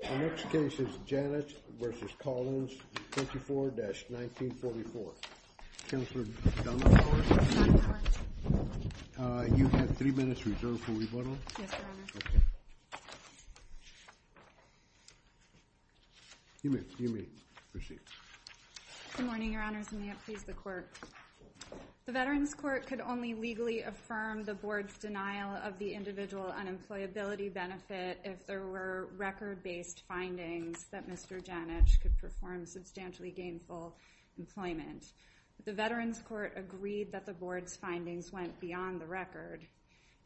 The next case is Janich v. Collins, 24-1944. Counselor Dunford, you have three minutes reserved for rebuttal. Yes, Your Honor. You may proceed. Good morning, Your Honors, and may it please the Court. The Veterans Court could only legally affirm the Board's denial of the Individual Unemployability Benefit if there were record-based findings that Mr. Janich could perform substantially gainful employment. The Veterans Court agreed that the Board's findings went beyond the record.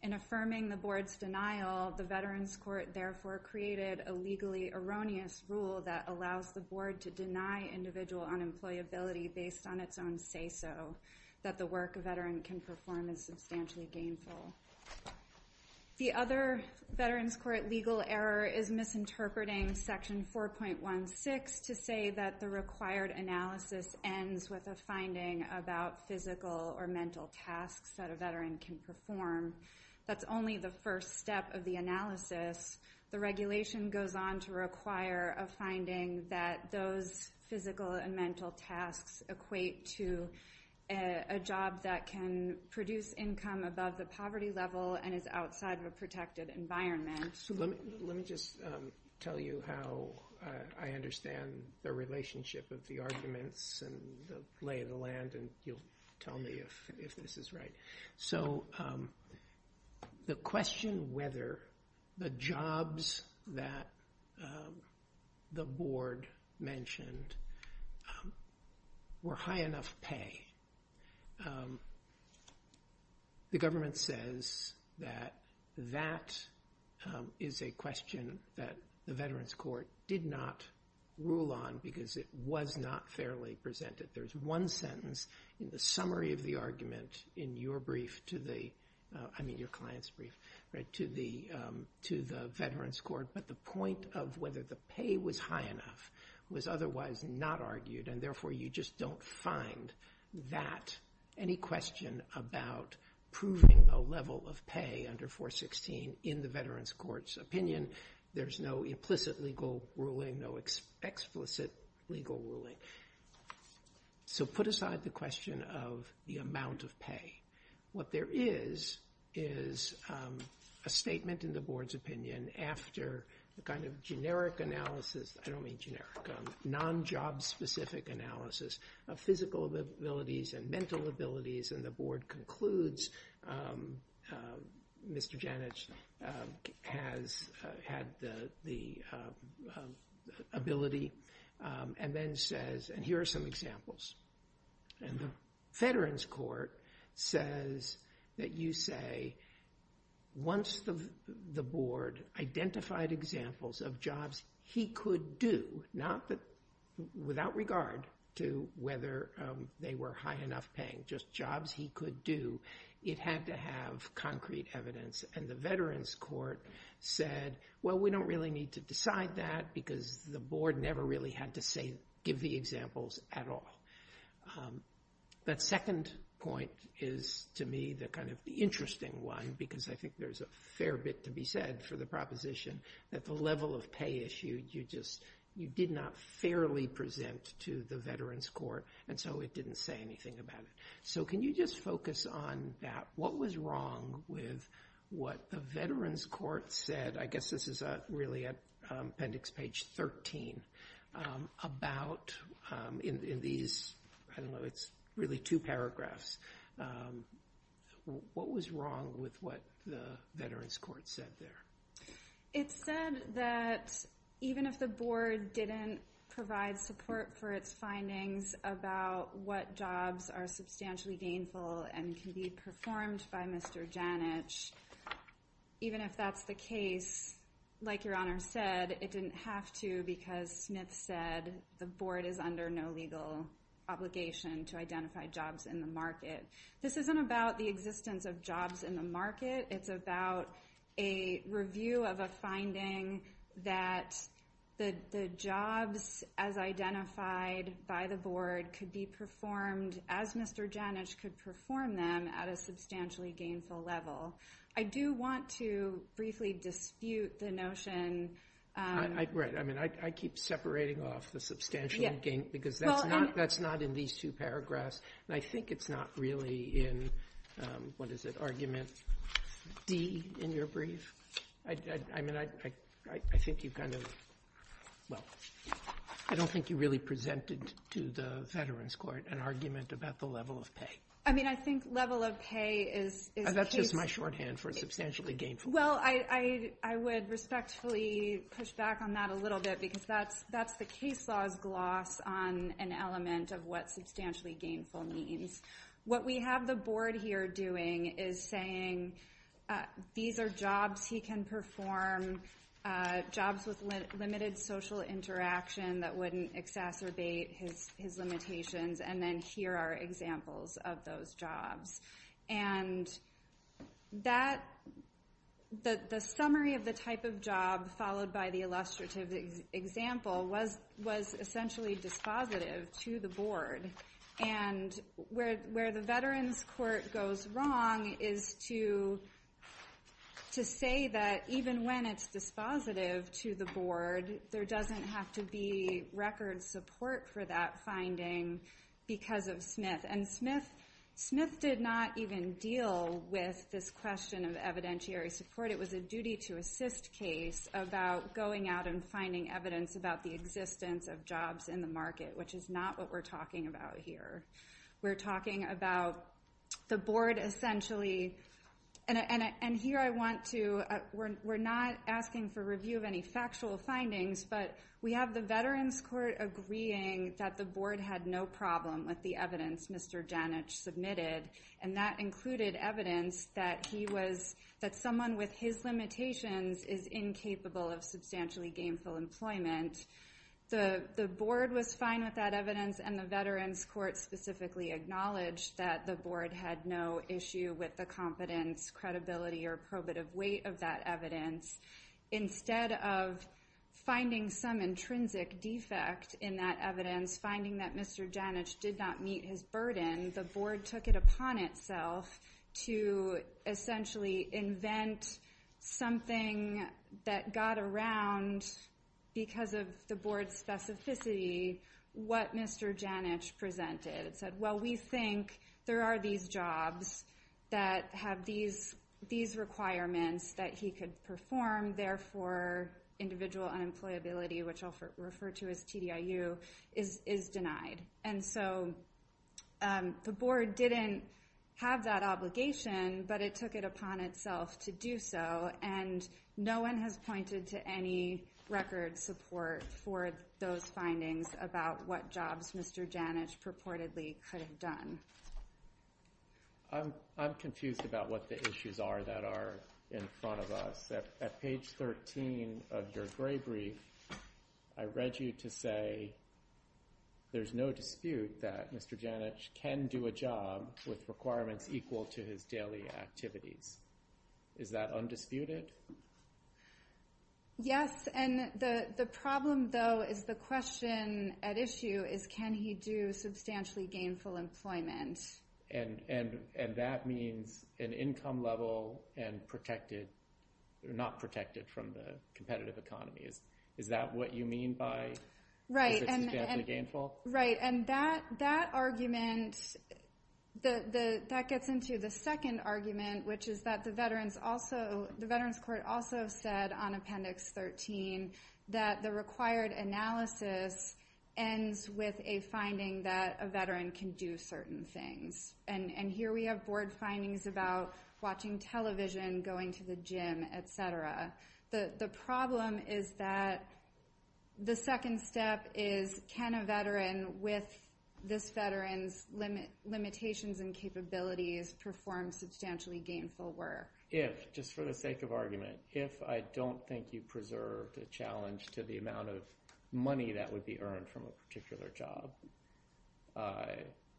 In affirming the Board's denial, the Veterans Court therefore created a legally erroneous rule that allows the Board to deny individual unemployability based on its own say-so, that the work a veteran can perform is substantially gainful. The other Veterans Court legal error is misinterpreting Section 4.16 to say that the required analysis ends with a finding about physical or mental tasks that a veteran can perform. That's only the first step of the analysis. The regulation goes on to require a finding that those physical and mental tasks equate to a job that can produce income above the poverty level and is outside of a protected environment. Let me just tell you how I understand the relationship of the arguments and the lay of the land, and you'll tell me if this is right. So the question whether the jobs that the Board mentioned were high enough pay, the government says that that is a question that the Veterans Court did not rule on because it was not fairly presented. There's one sentence in the summary of the argument in your brief to the Veterans Court, but the point of whether the pay was high enough was otherwise not argued, and therefore you just don't find that any question about proving a level of pay under 4.16 in the Veterans Court's opinion. There's no implicit legal ruling, no explicit legal ruling. So put aside the question of the amount of pay. What there is is a statement in the Board's opinion after the kind of generic analysis, I don't mean generic, non-job-specific analysis of physical abilities and mental abilities, and the Board concludes Mr. Janich has had the ability and then says, and here are some examples, and the Veterans Court says that you say once the Board identified examples of jobs he could do, without regard to whether they were high enough paying, just jobs he could do, it had to have concrete evidence, and the Veterans Court said, well, we don't really need to decide that because the Board never really had to give the examples at all. That second point is to me the kind of interesting one because I think there's a fair bit to be said for the proposition that the level of pay issued you just did not fairly present to the Veterans Court, and so it didn't say anything about it. So can you just focus on that? What was wrong with what the Veterans Court said? I guess this is really appendix page 13 about in these, I don't know, it's really two paragraphs. What was wrong with what the Veterans Court said there? It said that even if the Board didn't provide support for its findings about what jobs are substantially gainful and can be performed by Mr. Janich, even if that's the case, like Your Honor said, it didn't have to because Smith said the Board is under no legal obligation to identify jobs in the market. This isn't about the existence of jobs in the market. It's about a review of a finding that the jobs as identified by the Board could be performed as Mr. Janich could perform them at a substantially gainful level. I do want to briefly dispute the notion. Right. I mean, I keep separating off the substantially gainful because that's not in these two paragraphs, and I think it's not really in, what is it, argument D in your brief? I mean, I think you kind of, well, I don't think you really presented to the Veterans Court an argument about the level of pay. I mean, I think level of pay is case. That's just my shorthand for substantially gainful. Well, I would respectfully push back on that a little bit because that's the case law's gloss on an element of what substantially gainful means. What we have the Board here doing is saying these are jobs he can perform, jobs with limited social interaction that wouldn't exacerbate his limitations, and then here are examples of those jobs. And the summary of the type of job followed by the illustrative example was essentially dispositive to the Board. And where the Veterans Court goes wrong is to say that even when it's dispositive to the Board, there doesn't have to be record support for that finding because of Smith. And Smith did not even deal with this question of evidentiary support. It was a duty-to-assist case about going out and finding evidence about the existence of jobs in the market, which is not what we're talking about here. We're talking about the Board essentially, and here I want to, we're not asking for review of any factual findings, but we have the Veterans Court agreeing that the Board had no problem with the evidence Mr. Janich submitted, and that included evidence that someone with his limitations is incapable of substantially gainful employment. The Board was fine with that evidence, and the Veterans Court specifically acknowledged that the Board had no issue with the competence, credibility, or probative weight of that evidence. Instead of finding some intrinsic defect in that evidence, finding that Mr. Janich did not meet his burden, the Board took it upon itself to essentially invent something that got around, because of the Board's specificity, what Mr. Janich presented. It said, well, we think there are these jobs that have these requirements that he could perform, therefore individual unemployability, which I'll refer to as TDIU, is denied. And so the Board didn't have that obligation, but it took it upon itself to do so, and no one has pointed to any record support for those findings about what jobs Mr. Janich purportedly could have done. I'm confused about what the issues are that are in front of us. At page 13 of your gray brief, I read you to say there's no dispute that Mr. Janich can do a job with requirements equal to his daily activities. Is that undisputed? Yes, and the problem, though, is the question at issue is can he do substantially gainful employment? And that means an income level and not protected from the competitive economy. Is that what you mean by substantially gainful? Right, and that argument, that gets into the second argument, which is that the Veterans Court also said on Appendix 13 that the required analysis ends with a finding that a veteran can do certain things. And here we have Board findings about watching television, going to the gym, et cetera. The problem is that the second step is can a veteran with this veteran's limitations and capabilities perform substantially gainful work? If, just for the sake of argument, if I don't think you preserved a challenge to the amount of money that would be earned from a particular job,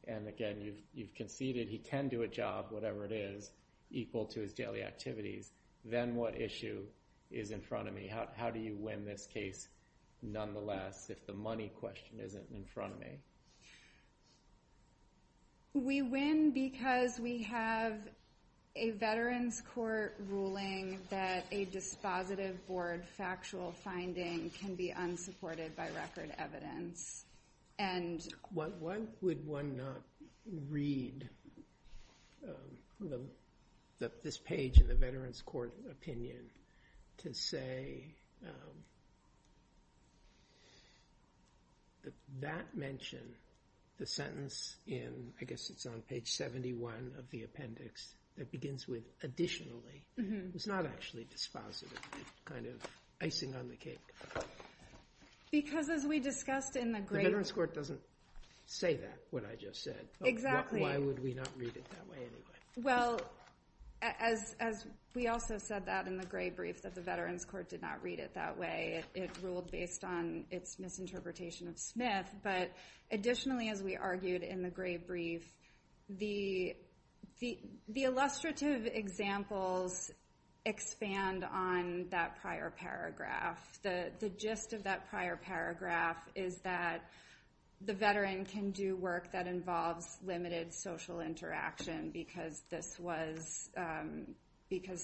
and, again, you've conceded he can do a job, whatever it is, equal to his daily activities, then what issue is in front of me? How do you win this case, nonetheless, if the money question isn't in front of me? We win because we have a Veterans Court ruling that a dispositive board factual finding can be unsupported by record evidence. Why would one not read this page in the Veterans Court opinion to say that that mention, the sentence in, I guess it's on page 71 of the appendix, that begins with additionally, it's not actually dispositive, kind of icing on the cake. Because as we discussed in the great... The Veterans Court doesn't say that, what I just said. Exactly. Why would we not read it that way, anyway? Well, as we also said that in the great brief, that the Veterans Court did not read it that way. It ruled based on its misinterpretation of Smith. But additionally, as we argued in the great brief, the illustrative examples expand on that prior paragraph. The gist of that prior paragraph is that the veteran can do work that involves limited social interaction, because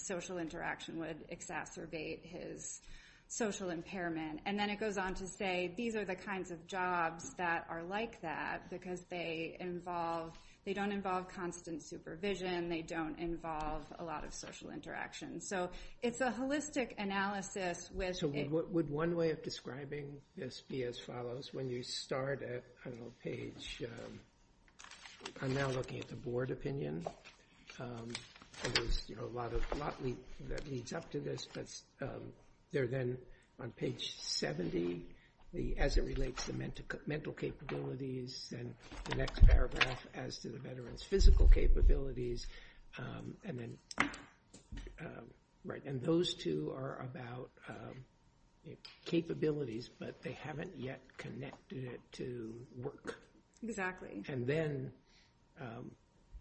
social interaction would exacerbate his social impairment. And then it goes on to say, these are the kinds of jobs that are like that, because they don't involve constant supervision, they don't involve a lot of social interaction. So it's a holistic analysis which... So would one way of describing this be as follows? When you start at, I don't know, page... I'm now looking at the board opinion. There's a lot that leads up to this, but they're then on page 70, as it relates to mental capabilities, and the next paragraph as to the veteran's physical capabilities. And then... Right, and those two are about capabilities, but they haven't yet connected it to work. Exactly. And then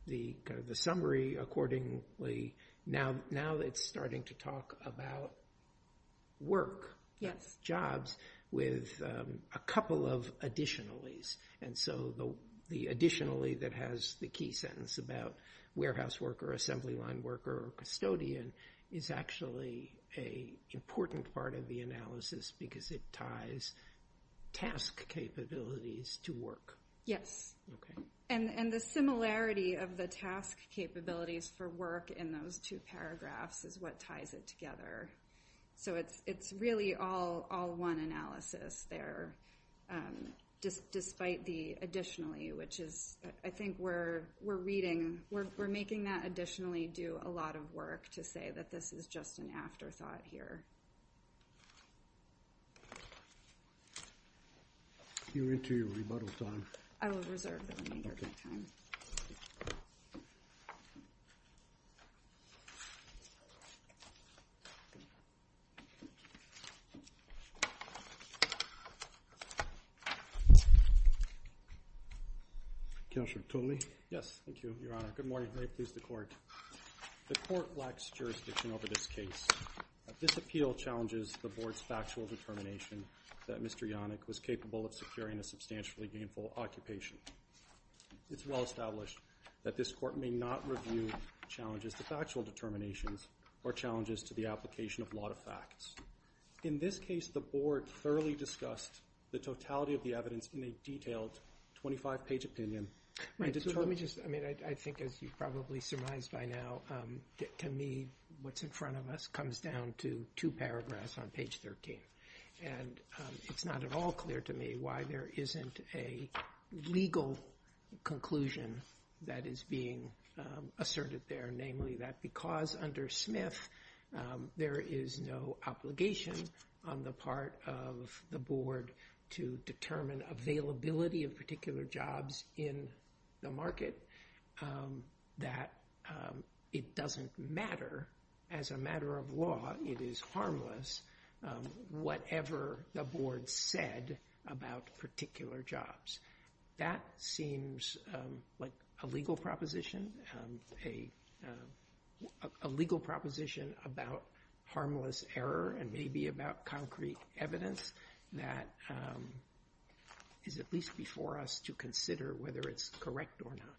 the summary accordingly, now it's starting to talk about work, jobs, with a couple of additionales. And so the additionally that has the key sentence about warehouse worker, assembly line worker, or custodian, is actually an important part of the analysis, because it ties task capabilities to work. Yes. Okay. And the similarity of the task capabilities for work in those two paragraphs is what ties it together. So it's really all one analysis there, despite the additionally, which is... I think we're reading... We're making that additionally do a lot of work to say that this is just an afterthought here. You're into your rebuttal time. I will reserve the remainder of my time. Okay. Counselor Toomey. Yes, thank you, Your Honor. Good morning. May it please the court. The court lacks jurisdiction over this case. This appeal challenges the board's factual determination that Mr. Yannick was capable of securing a substantially gainful occupation. It's well established that this court may not review challenges to factual determinations or challenges to the application of lot of facts. In this case, the board thoroughly discussed the totality of the evidence in a detailed 25-page opinion. Let me just... I mean, I think, as you've probably surmised by now, to me, what's in front of us comes down to two paragraphs on page 13. And it's not at all clear to me why there isn't a legal conclusion that is being asserted there, namely that because under Smith, there is no obligation on the part of the board to determine availability of particular jobs in the market, that it doesn't matter. As a matter of law, it is harmless whatever the board said about particular jobs. That seems like a legal proposition, a legal proposition about harmless error and maybe about concrete evidence that is at least before us to consider whether it's correct or not.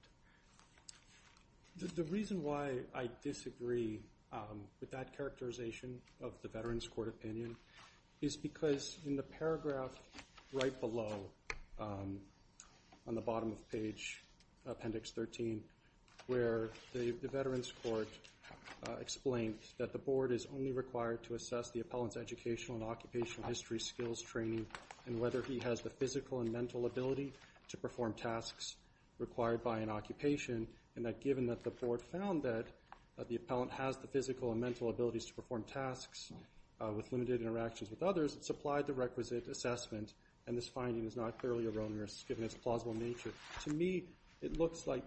The reason why I disagree with that characterization of the Veterans Court opinion is because in the paragraph right below, on the bottom of page appendix 13, where the Veterans Court explained that the board is only required to assess the appellant's educational and occupational history, skills, training, and whether he has the physical and mental ability to perform tasks required by an occupation, and that given that the board found that the appellant has the physical and mental abilities to perform tasks with limited interactions with others, it's applied to requisite assessment, and this finding is not clearly erroneous, given its plausible nature. To me, it looks like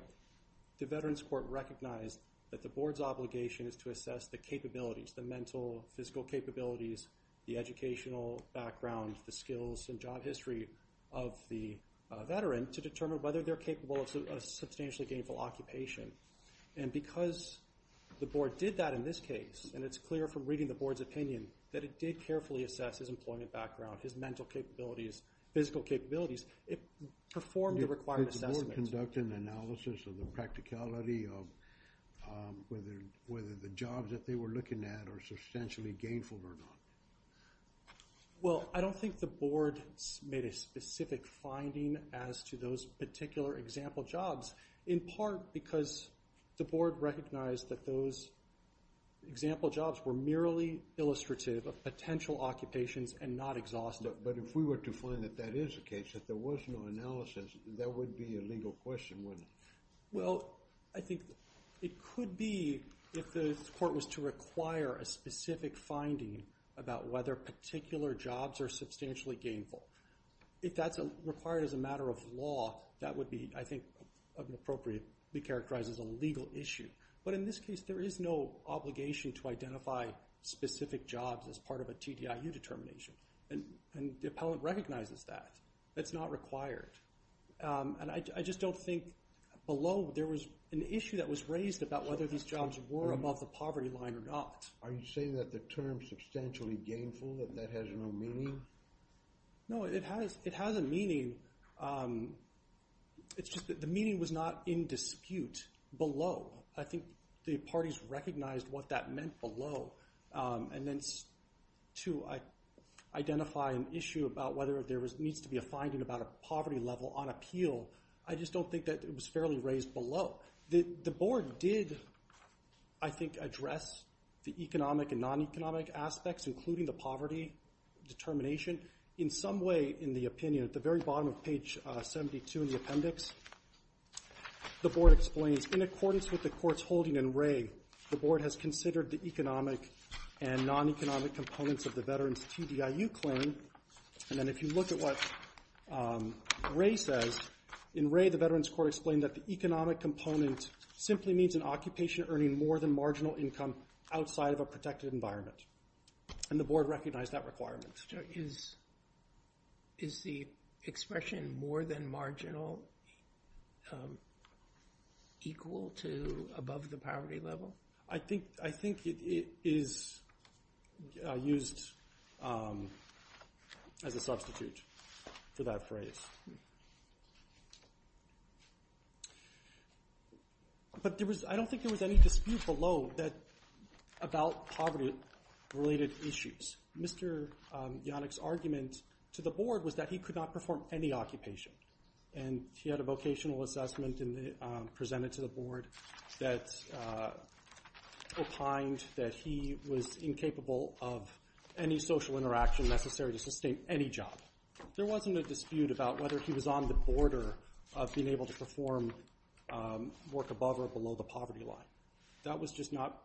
the Veterans Court recognized that the board's obligation is to assess the capabilities, the mental, physical capabilities, the educational background, the skills, and job history of the veteran to determine whether they're capable of a substantially gainful occupation, and because the board did that in this case, and it's clear from reading the board's opinion that it did carefully assess his employment background, his mental capabilities, physical capabilities, it performed the required assessment. Did the board conduct an analysis of the practicality of whether the jobs that they were looking at are substantially gainful or not? Well, I don't think the board made a specific finding as to those particular example jobs, in part because the board recognized that those example jobs were merely illustrative of potential occupations and not exhaustive. But if we were to find that that is the case, if there was no analysis, that would be a legal question, wouldn't it? Well, I think it could be if the court was to require a specific finding about whether particular jobs are substantially gainful. If that's required as a matter of law, that would be, I think, appropriately characterized as a legal issue. But in this case, there is no obligation to identify specific jobs as part of a TDIU determination, and the appellant recognizes that. It's not required. And I just don't think below there was an issue that was raised about whether these jobs were above the poverty line or not. Are you saying that the term substantially gainful, that that has no meaning? No, it has a meaning. It's just that the meaning was not in dispute below. I think the parties recognized what that meant below. And then to identify an issue about whether there needs to be a finding about a poverty level on appeal, I just don't think that it was fairly raised below. The board did, I think, address the economic and non-economic aspects, including the poverty determination. In some way, in the opinion, at the very bottom of page 72 in the appendix, the board explains, in accordance with the court's holding in Ray, the board has considered the economic and non-economic components of the veteran's TDIU claim. And then if you look at what Ray says, in Ray, the Veterans Court explained that the economic component simply means an occupation earning more than marginal income outside of a protected environment. And the board recognized that requirement. Is the expression more than marginal equal to above the poverty level? I think it is used as a substitute for that phrase. But I don't think there was any dispute below about poverty-related issues. Mr. Yonick's argument to the board was that he could not perform any occupation. And he had a vocational assessment presented to the board that opined that he was incapable of any social interaction necessary to sustain any job. There wasn't a dispute about whether he was on the border of being able to perform work above or below the poverty line. That was just not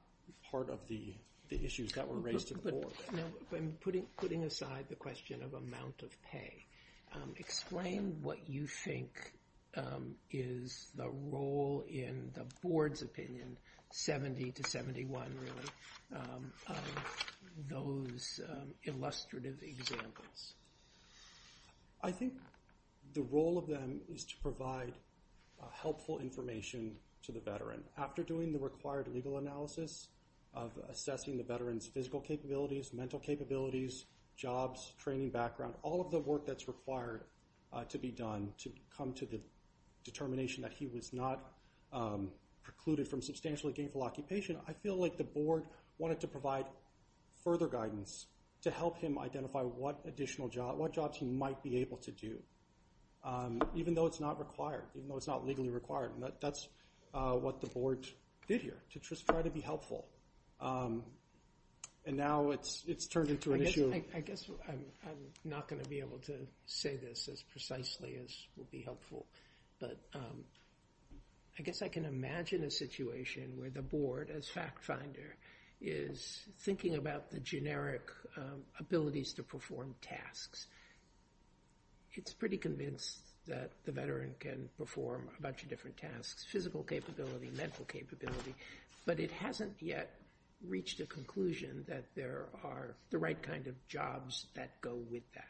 part of the issues that were raised at the board. Putting aside the question of amount of pay, explain what you think is the role in the board's opinion, 70 to 71 really, of those illustrative examples. I think the role of them is to provide helpful information to the veteran. After doing the required legal analysis of assessing the veteran's physical capabilities, mental capabilities, jobs, training background, all of the work that's required to be done to come to the determination that he was not precluded from substantially gainful occupation, I feel like the board wanted to provide further guidance to help him identify what additional jobs he might be able to do, even though it's not required, even though it's not legally required. And that's what the board did here, to just try to be helpful. And now it's turned into an issue. I guess I'm not going to be able to say this as precisely as will be helpful, but I guess I can imagine a situation where the board, as fact finder, is thinking about the generic abilities to perform tasks. It's pretty convinced that the veteran can perform a bunch of different tasks, physical capability, mental capability, but it hasn't yet reached a conclusion that there are the right kind of jobs that go with that.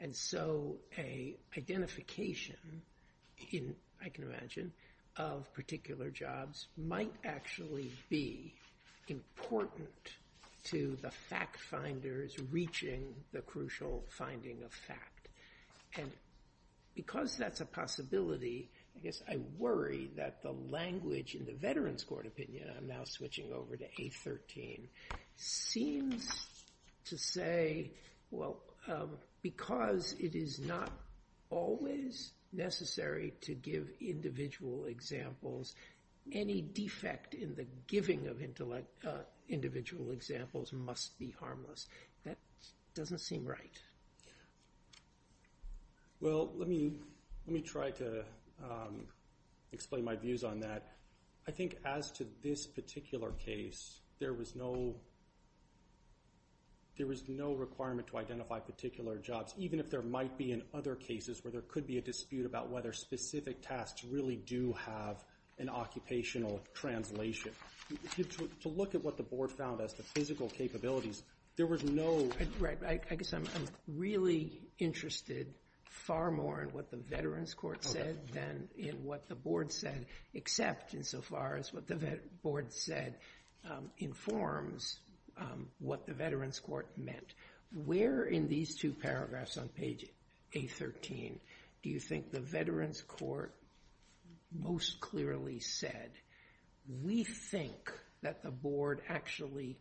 And so an identification, I can imagine, of particular jobs might actually be important to the fact finders if it's reaching the crucial finding of fact. And because that's a possibility, I guess I worry that the language in the Veterans Court opinion, I'm now switching over to 813, seems to say, well, because it is not always necessary to give individual examples, any defect in the giving of individual examples must be harmless. That doesn't seem right. Well, let me try to explain my views on that. I think as to this particular case, there was no requirement to identify particular jobs, even if there might be in other cases where there could be a dispute about whether specific tasks really do have an occupational translation. To look at what the board found as the physical capabilities, there was no- Right, I guess I'm really interested far more in what the Veterans Court said than in what the board said, except insofar as what the board said informs what the Veterans Court meant. Where in these two paragraphs on page 813 do you think the Veterans Court most clearly said, we think that the board actually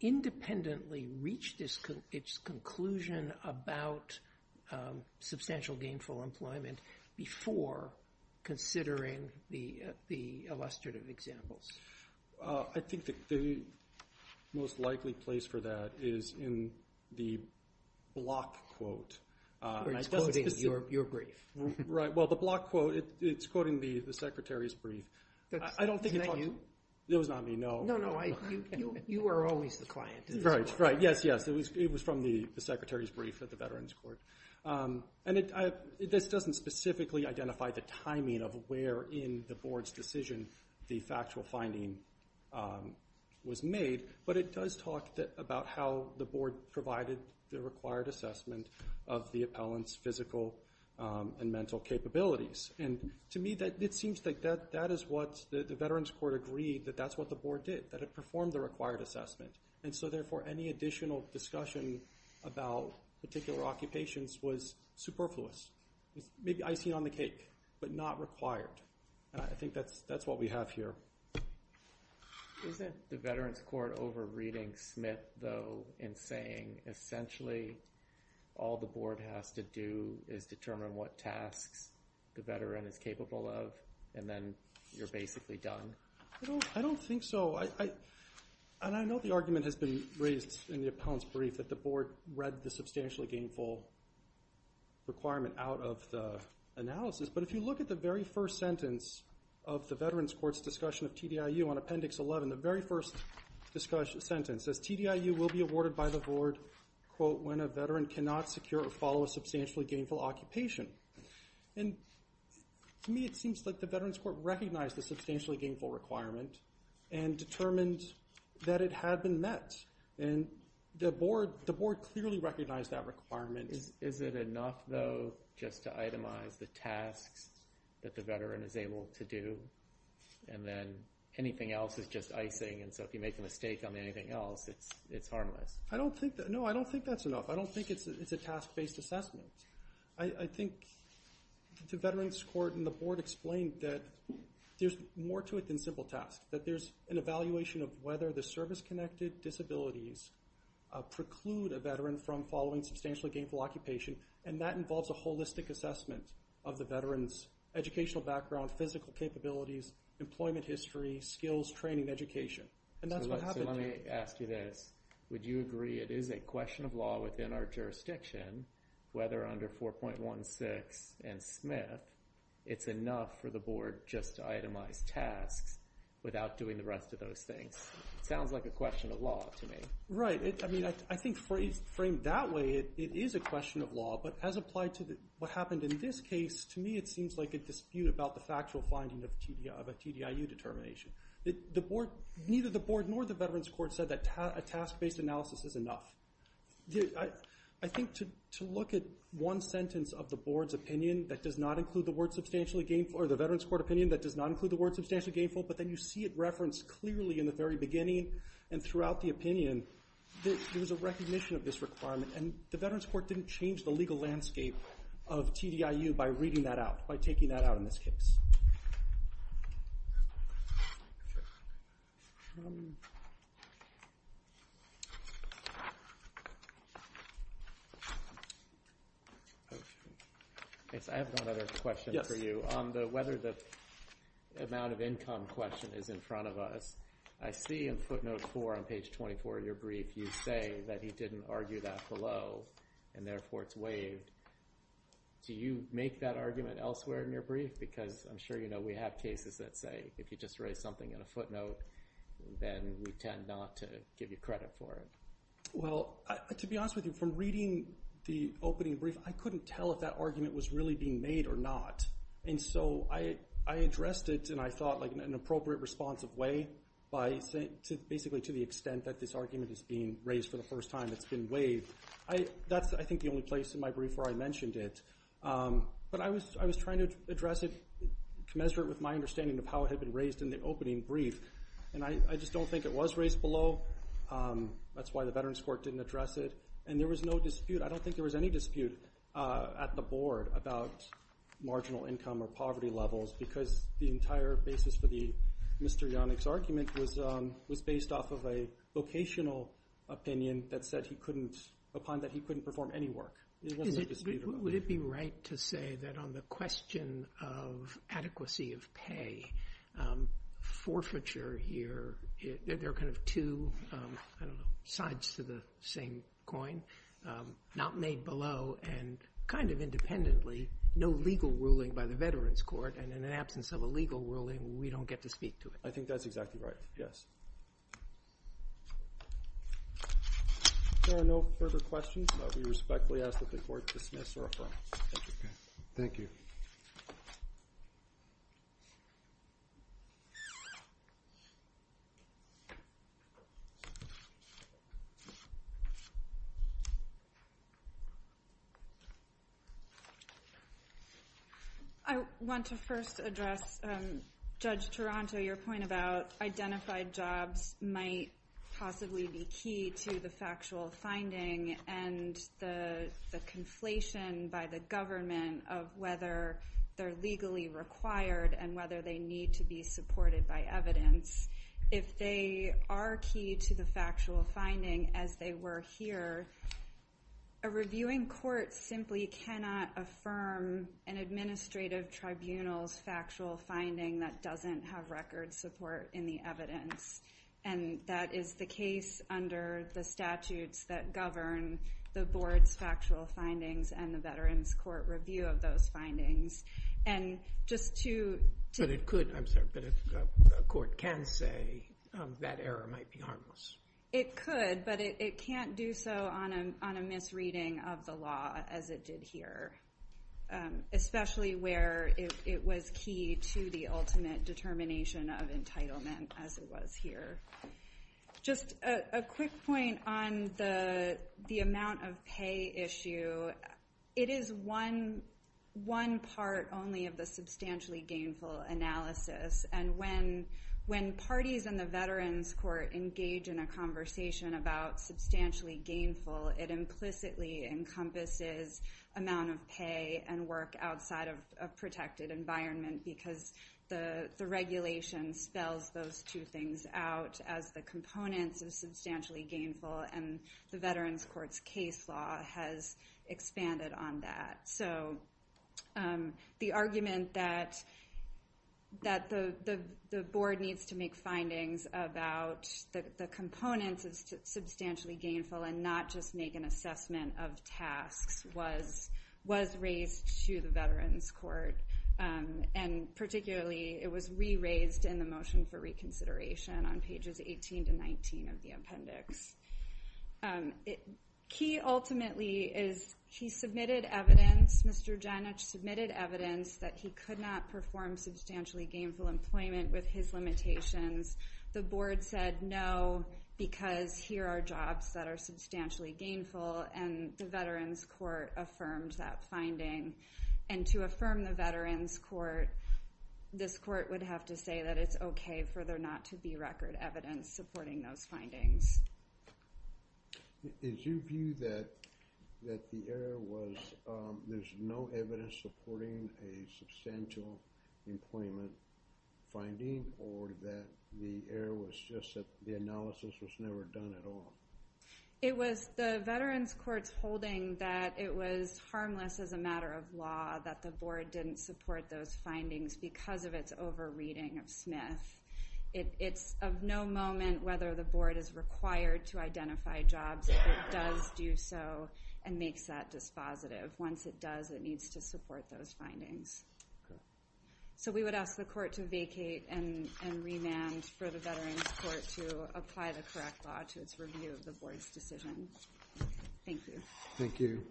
independently reached its conclusion about substantial gainful employment before considering the illustrative examples? I think the most likely place for that is in the block quote. You're quoting your brief. Right, well, the block quote, it's quoting the Secretary's brief. Isn't that you? It was not me, no. No, no, you are always the client. Right, right, yes, yes, it was from the Secretary's brief at the Veterans Court. And this doesn't specifically identify the timing of where in the board's decision the factual finding was made, but it does talk about how the board provided the required assessment of the appellant's physical and mental capabilities. And to me, it seems like that is what the Veterans Court agreed that that's what the board did, that it performed the required assessment. And so, therefore, any additional discussion about particular occupations was superfluous, maybe icing on the cake, but not required. I think that's what we have here. Isn't the Veterans Court over-reading Smith, though, in saying essentially all the board has to do is determine what tasks the veteran is capable of, and then you're basically done? I don't think so. And I know the argument has been raised in the appellant's brief that the board read the substantially gainful requirement out of the analysis, but if you look at the very first sentence of the Veterans Court's discussion of TDIU on Appendix 11, the very first sentence says, TDIU will be awarded by the board, quote, when a veteran cannot secure or follow a substantially gainful occupation. And to me, it seems like the Veterans Court recognized the substantially gainful requirement and determined that it had been met. And the board clearly recognized that requirement. Is it enough, though, just to itemize the tasks that the veteran is able to do, and then anything else is just icing, and so if you make a mistake on anything else, it's harmless? No, I don't think that's enough. I don't think it's a task-based assessment. I think the Veterans Court and the board explained that there's more to it than simple tasks, that there's an evaluation of whether the service-connected disabilities preclude a veteran from following substantially gainful occupation, and that involves a holistic assessment of the veteran's educational background, physical capabilities, employment history, skills, training, education, and that's what happened. So let me ask you this. Would you agree it is a question of law within our jurisdiction whether under 4.16 and Smith, it's enough for the board just to itemize tasks without doing the rest of those things? It sounds like a question of law to me. Right. I mean, I think framed that way, it is a question of law, but as applied to what happened in this case, to me, it seems like a dispute about the factual finding of a TDIU determination. Neither the board nor the Veterans Court said that a task-based analysis is enough. I think to look at one sentence of the board's opinion that does not include the word substantially gainful or the Veterans Court opinion that does not include the word substantially gainful, but then you see it referenced clearly in the very beginning and throughout the opinion, there was a recognition of this requirement, and the Veterans Court didn't change the legal landscape of TDIU by reading that out, by taking that out in this case. I have one other question for you. On whether the amount of income question is in front of us, I see in footnote 4 on page 24 of your brief you say that he didn't argue that below, and therefore it's waived. Do you make that argument elsewhere in your brief? Because I'm sure you know we have cases that say if you just raise something in a footnote, then we tend not to give you credit for it. Well, to be honest with you, from reading the opening brief, I couldn't tell if that argument was really being made or not. And so I addressed it, and I thought in an appropriate, responsive way, basically to the extent that this argument is being raised for the first time, it's been waived. That's, I think, the only place in my brief where I mentioned it. But I was trying to address it, commensurate with my understanding of how it had been raised in the opening brief. And I just don't think it was raised below. That's why the Veterans Court didn't address it. And there was no dispute. I don't think there was any dispute at the Board about marginal income or poverty levels because the entire basis for Mr. Yonick's argument was based off of a vocational opinion that said he couldn't, upon that he couldn't perform any work. Would it be right to say that on the question of adequacy of pay, forfeiture here, there are kind of two sides to the same coin, not made below, and kind of independently, no legal ruling by the Veterans Court. And in the absence of a legal ruling, we don't get to speak to it. I think that's exactly right, yes. If there are no further questions, we respectfully ask that the Court dismiss or affirm. Thank you. I want to first address Judge Taranto, your point about identified jobs might possibly be key to the factual finding and the conflation by the government of whether they're legally required and whether they need to be supported by evidence. If they are key to the factual finding, as they were here, a reviewing court simply cannot affirm an administrative tribunal's factual finding that doesn't have record support in the evidence. And that is the case under the statutes that govern the board's factual findings and the Veterans Court review of those findings. But it could, I'm sorry, but a court can say that error might be harmless. It could, but it can't do so on a misreading of the law as it did here, especially where it was key to the ultimate determination of entitlement, as it was here. Just a quick point on the amount of pay issue. It is one part only of the substantially gainful analysis. And when parties in the Veterans Court engage in a conversation about substantially gainful, it implicitly encompasses amount of pay and work outside of a protected environment because the regulation spells those two things out as the components of substantially gainful, and the Veterans Court's case law has expanded on that. So the argument that the board needs to make findings about the components of substantially gainful and not just make an assessment of tasks was raised to the Veterans Court, and particularly it was re-raised in the motion for reconsideration on pages 18 to 19 of the appendix. Key ultimately is he submitted evidence, Mr. Janich submitted evidence, that he could not perform substantially gainful employment with his limitations. The board said no because here are jobs that are substantially gainful, and the Veterans Court affirmed that finding. And to affirm the Veterans Court, this court would have to say that it's okay for there not to be record evidence supporting those findings. Is your view that the error was there's no evidence supporting a substantial employment finding or that the error was just that the analysis was never done at all? It was the Veterans Court's holding that it was harmless as a matter of law that the board didn't support those findings because of its over-reading of Smith. It's of no moment whether the board is required to identify jobs if it does do so and makes that dispositive. Once it does, it needs to support those findings. So we would ask the court to vacate and remand for the Veterans Court to apply the correct law to its review of the board's decision. Thank you. Thank you.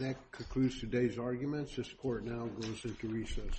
That concludes today's arguments. This court now goes into recess.